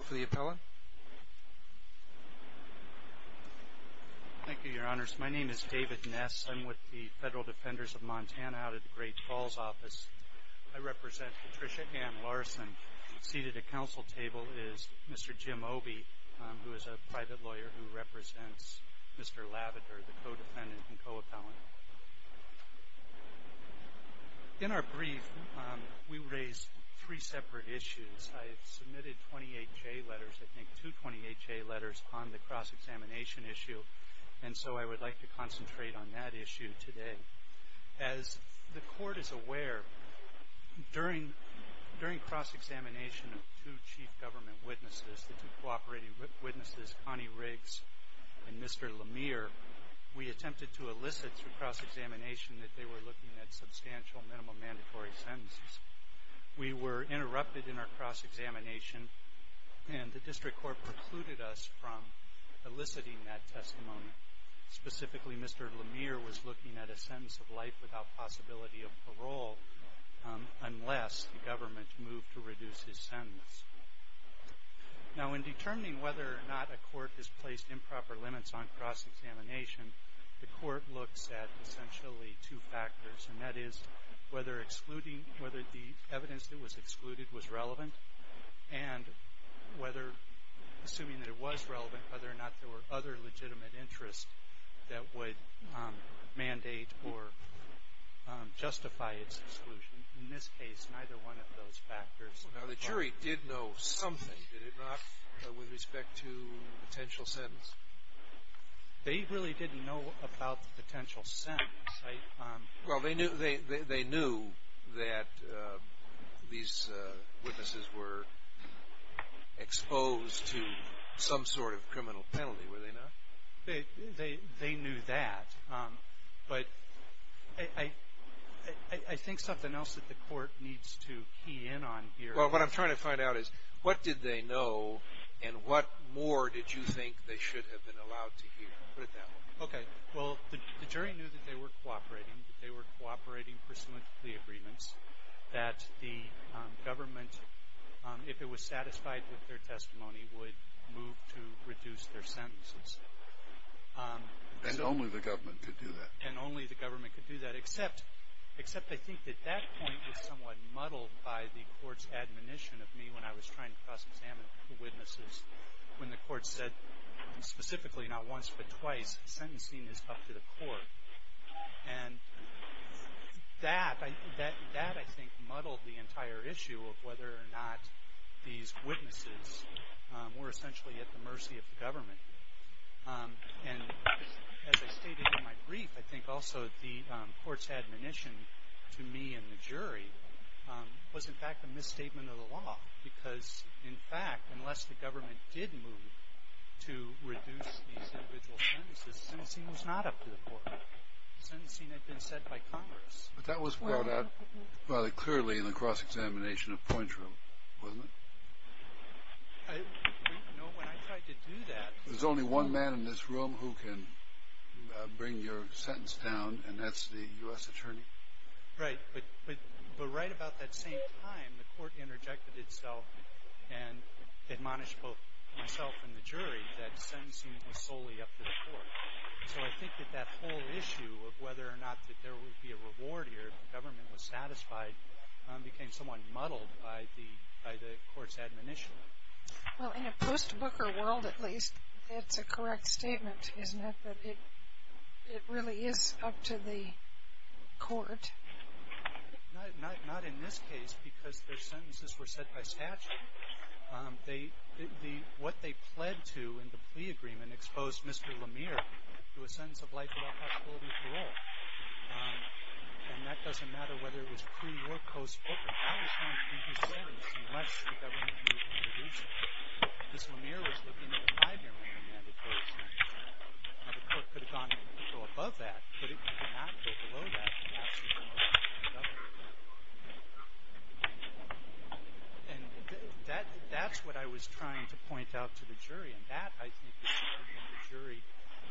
Co-Defendant and Co-Appellant. In our brief, we raised three separate issues. I have submitted 28 J letters, I think two 28 J letters on the cross-examination issue, and so I would like to concentrate on that issue today. As the Court is aware, during cross-examination of two Chief Government Witnesses, the two Co-Operating Witnesses, Connie Riggs and Mr. Lemire, we attempted to elicit through cross-examination that they were looking at substantial minimum mandatory sentences. We were interrupted in our cross-examination, and the District Court precluded us from eliciting that testimony. Specifically, Mr. Lemire was looking at a sentence of life without possibility of parole unless the Government moved to reduce his sentence. Now in determining whether or not a Court has placed improper limits on cross-examination, the Court looks at essentially two factors, and that is whether excluding, whether the evidence that was excluded was relevant, and whether, assuming that it was relevant, whether or not there were other legitimate interests that would mandate or justify its exclusion. In this case, neither one of those factors. Now the jury did know something, did it not, with respect to potential sentence? They really didn't know about the potential sentence, right? Well they knew that these Witnesses were exposed to some sort of criminal penalty, were they not? They knew that, but I think something else that the Court needs to key in on here. Well what I'm trying to find out is, what did they know, and what more did you think they should have been allowed to hear? Put it that way. Okay, well the jury knew that they were cooperating, that they were cooperating pursuant to the agreements, that the Government, if it was satisfied with their testimony, would move to reduce their sentences. And only the Government could do that. And only the Government could do that, except, except I think that that point was somewhat under the admonition of me when I was trying to cross-examine the Witnesses, when the Court said specifically not once but twice, sentencing is up to the Court. And that, that I think muddled the entire issue of whether or not these Witnesses were essentially at the mercy of the Government. And as I stated in my brief, I think also the Court's admonition to me and the jury was in fact a misstatement of the law. Because in fact, unless the Government did move to reduce these individual sentences, sentencing was not up to the Court. Sentencing had been set by Congress. But that was brought out rather clearly in the cross-examination of Pointreau, wasn't it? I, you know, when I tried to do that... There's only one man in this room who can bring your sentence down, and that's the U.S. Attorney. Right, but right about that same time, the Court interjected itself and admonished both myself and the jury that sentencing was solely up to the Court. So I think that that whole issue of whether or not that there would be a reward here if the Government was satisfied became somewhat muddled by the Court's admonition. Well, in a post-Booker world at least, that's a correct statement, isn't it? That it really is up to the Court. Not in this case, because their sentences were set by statute. What they pled to in the plea agreement exposed Mr. Lemire to a sentence of life without possibility of parole. And that doesn't matter whether it was pre-or post-Booker. That was not in his sentence unless the Government had moved to reduce it. Mr. Lemire was looking at a five-year mandate for his sentence. Now, the Court could have gone a little above that, but it could not go below that. And that's what I was trying to point out to the jury. And that, I think, is something that the jury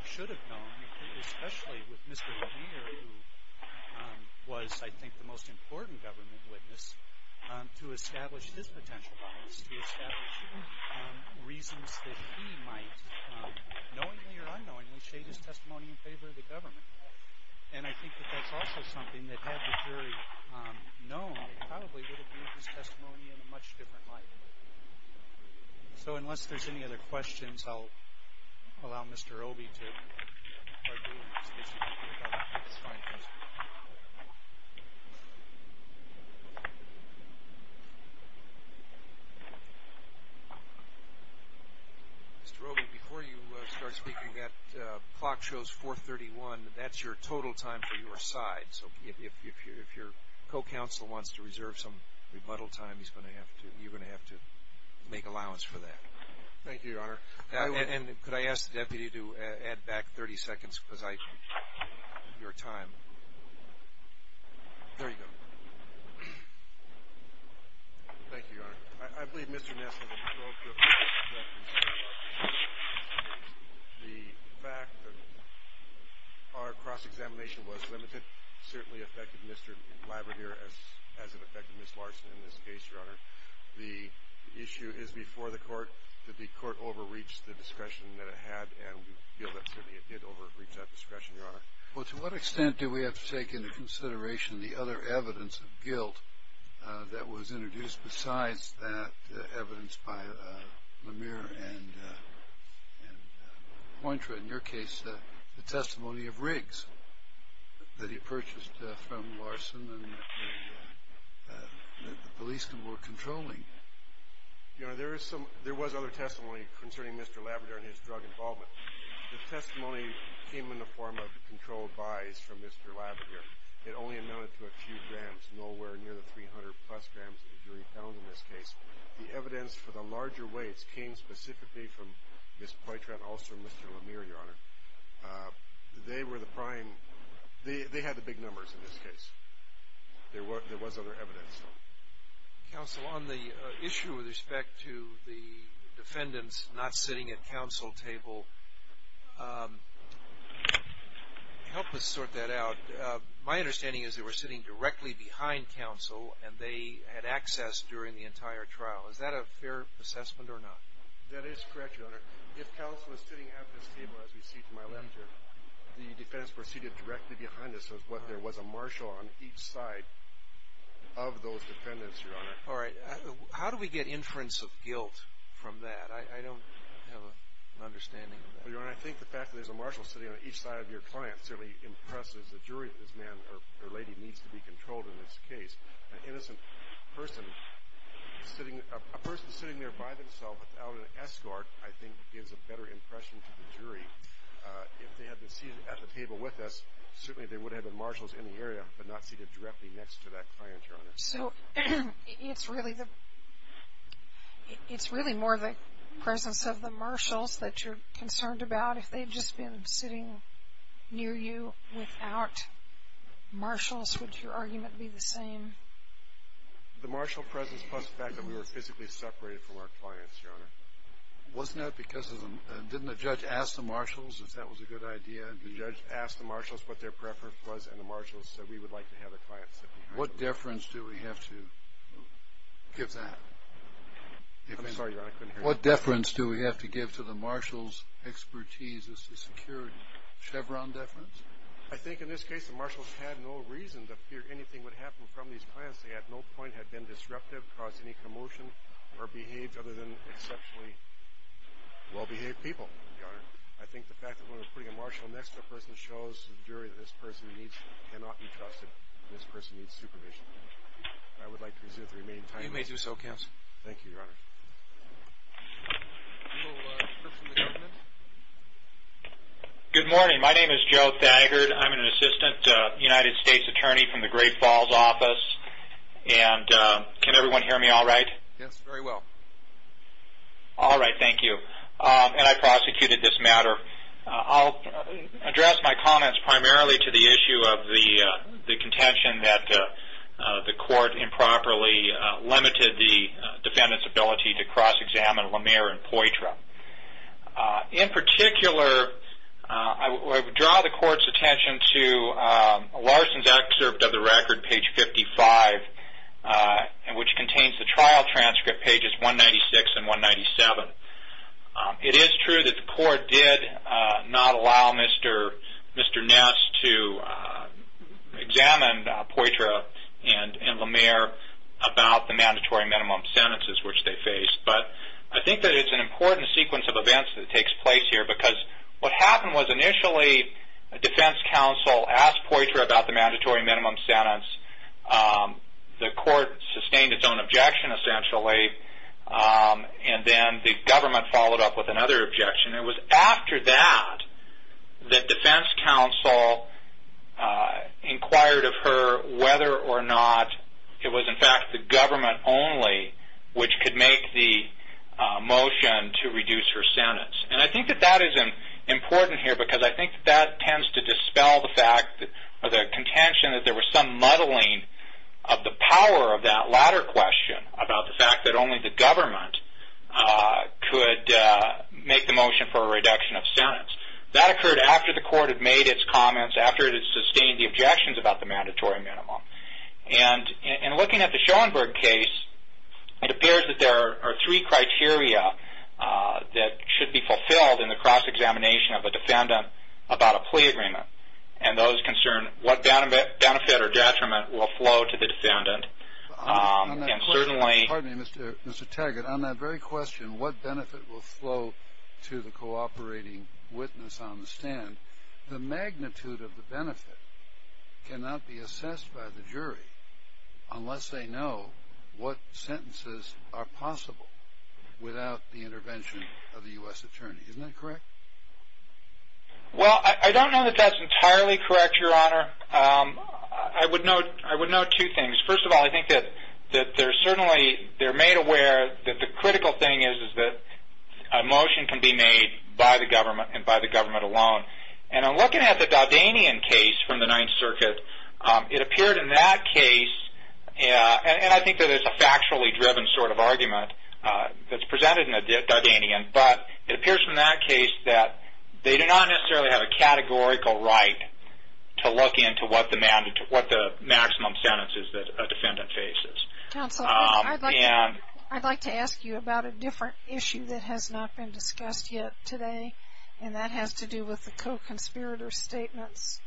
should have known, especially with Mr. Lemire, who was, I think, the most important Government witness, to establish his potential bias, to establish reasons that he might, knowingly or unknowingly, shade his testimony in favor of the Government. And I think that that's also something that, had the jury known, probably would have moved his testimony in a much different light. So, unless there's any other questions, I'll allow Mr. Obey to argue, in case he can't do it without having to sign things. Mr. Obey, before you start speaking, that clock shows 4.31. That's your total time for your side. So, if your co-counsel wants to reserve some rebuttal time, he's going to have to, you're going to have to make allowance for that. Thank you, Your Honor. And could I ask the Deputy to add back 30 seconds, because I, your time. There you go. Thank you, Your Honor. I believe Mr. Ness has a control group that, in this case, the fact that our cross-examination was limited, certainly affected Mr. Labrador as it affected Ms. Larson in this case, Your Honor. The issue is, before the Court, that the Court overreached the discretion that it had, and we feel that, certainly, it did overreach that discretion, Your Honor. Well, to what extent do we have to take into consideration the other evidence of guilt that was introduced besides that evidence by Lemire and Pointreau, in your case, the testimony of Riggs that he purchased from Larson and the police were controlling? Your Honor, there was other testimony concerning Mr. Labrador and his drug involvement. The testimony came in the form of controlled buys from Mr. Labrador. It only amounted to a few grams, nowhere near the 300-plus grams that the jury found in this case. The evidence for the larger weights came specifically from Ms. Pointreau and also Mr. Lemire, Your Honor. They were the prime, they had the big numbers in this case. There was other evidence, though. Counsel, on the issue with respect to the defendants not sitting at counsel table, help us sort that out. My understanding is they were sitting directly behind counsel and they had access during the entire trial. Is that a fair assessment or not? That is correct, Your Honor. If counsel is sitting at this table, as we see from my left here, the defendants were seated directly behind us. There was a marshal on each side of those defendants, Your Honor. All right. How do we get inference of guilt from that? I don't have an understanding of that. Your Honor, I think the fact that there's a marshal sitting on each side of your client certainly impresses the jury that this man or lady needs to be controlled in this case. An innocent person, a person sitting there by themselves without an escort, I think gives a better impression to the jury. If they had been seated at the table with us, certainly there would have been marshals in the area but not seated directly next to that client, Your Honor. So it's really more the presence of the marshals that you're concerned about? If they had just been sitting near you without marshals, would your argument be the same? The marshal presence plus the fact that we were physically separated from our clients, Your Honor. Wasn't that because didn't the judge ask the marshals if that was a good idea? The judge asked the marshals what their preference was, and the marshals said we would like to have the clients sit behind us. What deference do we have to give that? I'm sorry, Your Honor. I couldn't hear you. What deference do we have to give to the marshals' expertise as to security? Chevron deference? I think in this case the marshals had no reason to fear anything would happen from these clients. They at no point had been disruptive, caused any commotion, or behaved other than exceptionally well-behaved people, Your Honor. I think the fact that when we're putting a marshal next to a person shows to the jury that this person cannot be trusted. This person needs supervision. I would like to reserve the remaining time. You may do so, Counsel. Thank you, Your Honor. Good morning. My name is Joe Thagard. I'm an assistant United States attorney from the Great Falls office. Can everyone hear me all right? Yes, very well. All right. Thank you. I prosecuted this matter. I'll address my comments primarily to the issue of the contention that the court improperly limited the defendant's ability to cross-examine Lemire and Poitras. In particular, I would draw the court's attention to Larson's excerpt of the record, page 55, which contains the trial transcript, pages 196 and 197. It is true that the court did not allow Mr. Ness to examine Poitras and Lemire about the mandatory minimum sentences which they faced, but I think that it's an important sequence of events that takes place here because what happened was initially a defense counsel asked Poitras about the mandatory minimum sentence. The court sustained its own objection, essentially, and then the government followed up with another objection. It was after that that defense counsel inquired of her whether or not it was, in fact, the government only which could make the motion to reduce her sentence. And I think that that is important here because I think that that tends to dispel the fact or the contention that there was some muddling of the power of that latter question about the fact that only the government could make the motion for a reduction of sentence. That occurred after the court had made its comments, after it had sustained the objections about the mandatory minimum. And looking at the Schoenberg case, it appears that there are three criteria that should be fulfilled in the cross-examination of a defendant about a plea agreement. And those concern what benefit or detriment will flow to the defendant, and certainly Pardon me, Mr. Taggart. On that very question, what benefit will flow to the cooperating witness on the stand, the magnitude of the benefit cannot be assessed by the jury unless they know what sentences are possible without the intervention of the U.S. attorney. Isn't that correct? Well, I don't know that that's entirely correct, Your Honor. I would note two things. First of all, I think that they're made aware that the critical thing is that a motion can be made by the government and by the government alone. And in looking at the Dardanian case from the Ninth Circuit, it appeared in that case, and I think that it's a factually driven sort of argument that's presented in the Dardanian, but it appears from that case that they do not necessarily have a categorical right to look into what the maximum sentence is that a defendant faces. Counsel, I'd like to ask you about a different issue that has not been discussed yet today, and that has to do with the co-conspirator statements.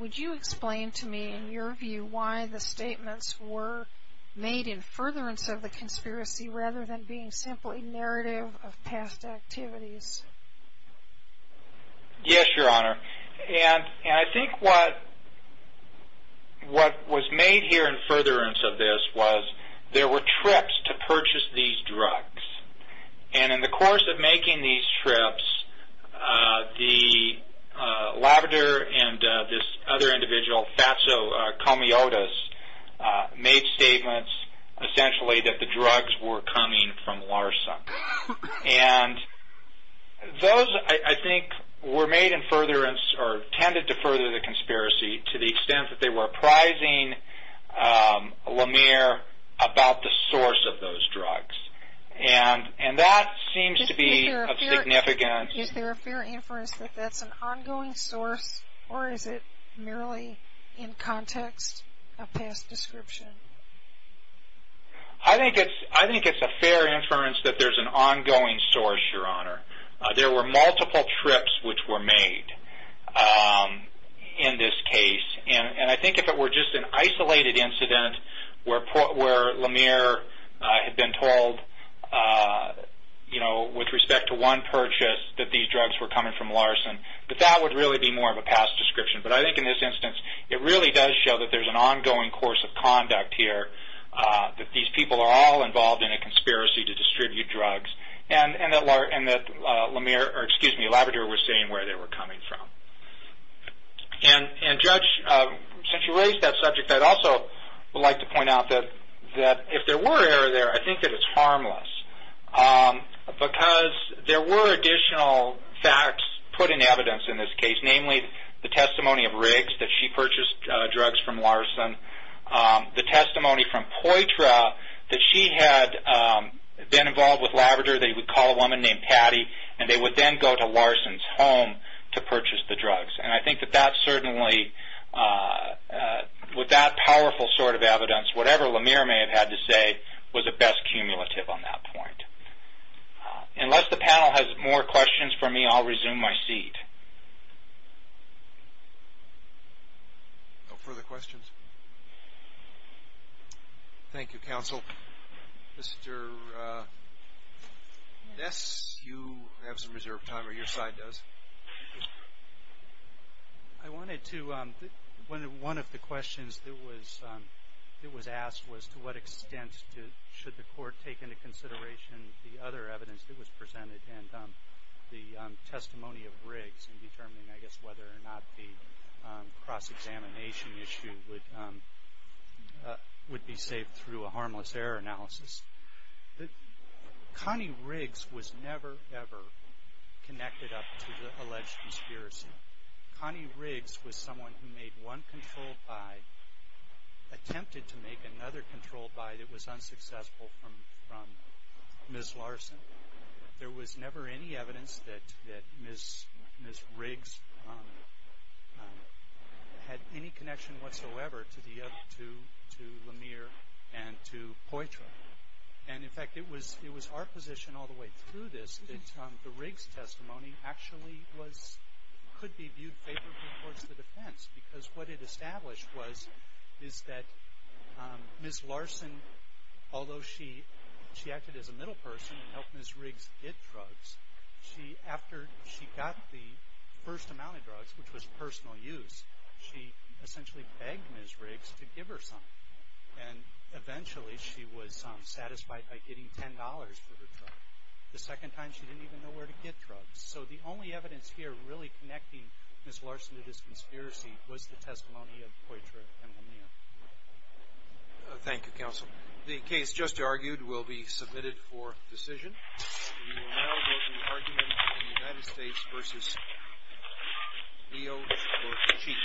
Would you explain to me, in your view, why the statements were made in furtherance of the conspiracy rather than being simply narrative of past activities? Yes, Your Honor. And I think what was made here in furtherance of this was there were trips to purchase these drugs. And in the course of making these trips, the Labrador and this other individual, Faso Comiodas, made statements essentially that the drugs were coming from LARSAC. And those, I think, were made in furtherance or tended to further the conspiracy to the extent that they were apprising Lemire about the source of those drugs. And that seems to be of significance. Is there a fair inference that that's an ongoing source, or is it merely in context of past description? I think it's a fair inference that there's an ongoing source, Your Honor. There were multiple trips which were made in this case. And I think if it were just an isolated incident where Lemire had been told, you know, with respect to one purchase that these drugs were coming from LARSAC, that that would really be more of a past description. But I think in this instance, it really does show that there's an ongoing course of conduct here, that these people are all involved in a conspiracy to distribute drugs, and that Lemire or, excuse me, Labrador were seeing where they were coming from. And, Judge, since you raised that subject, I'd also like to point out that if there were error there, I think that it's harmless because there were additional facts put in evidence in this case, namely the testimony of Riggs, that she purchased drugs from Larson, the testimony from Poitras, that she had been involved with Labrador. They would call a woman named Patty, and they would then go to Larson's home to purchase the drugs. And I think that that certainly, with that powerful sort of evidence, whatever Lemire may have had to say was a best cumulative on that point. Unless the panel has more questions for me, I'll resume my seat. No further questions? Thank you, Counsel. Mr. Ness, you have some reserved time, or your side does. I wanted to, one of the questions that was asked was, to what extent should the Court take into consideration the other evidence that was presented and the testimony of Riggs in determining, I guess, whether or not the cross-examination issue would be saved through a harmless error analysis. Connie Riggs was never, ever connected up to the alleged conspiracy. Connie Riggs was someone who made one controlled buy, attempted to make another controlled buy that was unsuccessful from Ms. Larson. There was never any evidence that Ms. Riggs had any connection whatsoever to Lemire and to Poitras. And, in fact, it was our position all the way through this that the Riggs testimony actually was, could be viewed favorably towards the defense. Because what it established was, is that Ms. Larson, although she acted as a middle person and helped Ms. Riggs get drugs, she, after she got the first amount of drugs, which was personal use, she essentially begged Ms. Riggs to give her some. And, eventually, she was satisfied by getting $10 for her drug. The second time, she didn't even know where to get drugs. So the only evidence here really connecting Ms. Larson to this conspiracy was the testimony of Poitras and Lemire. Thank you, Counsel. The case just argued will be submitted for decision. We will now vote on the argument of the United States v. Leo Orsici.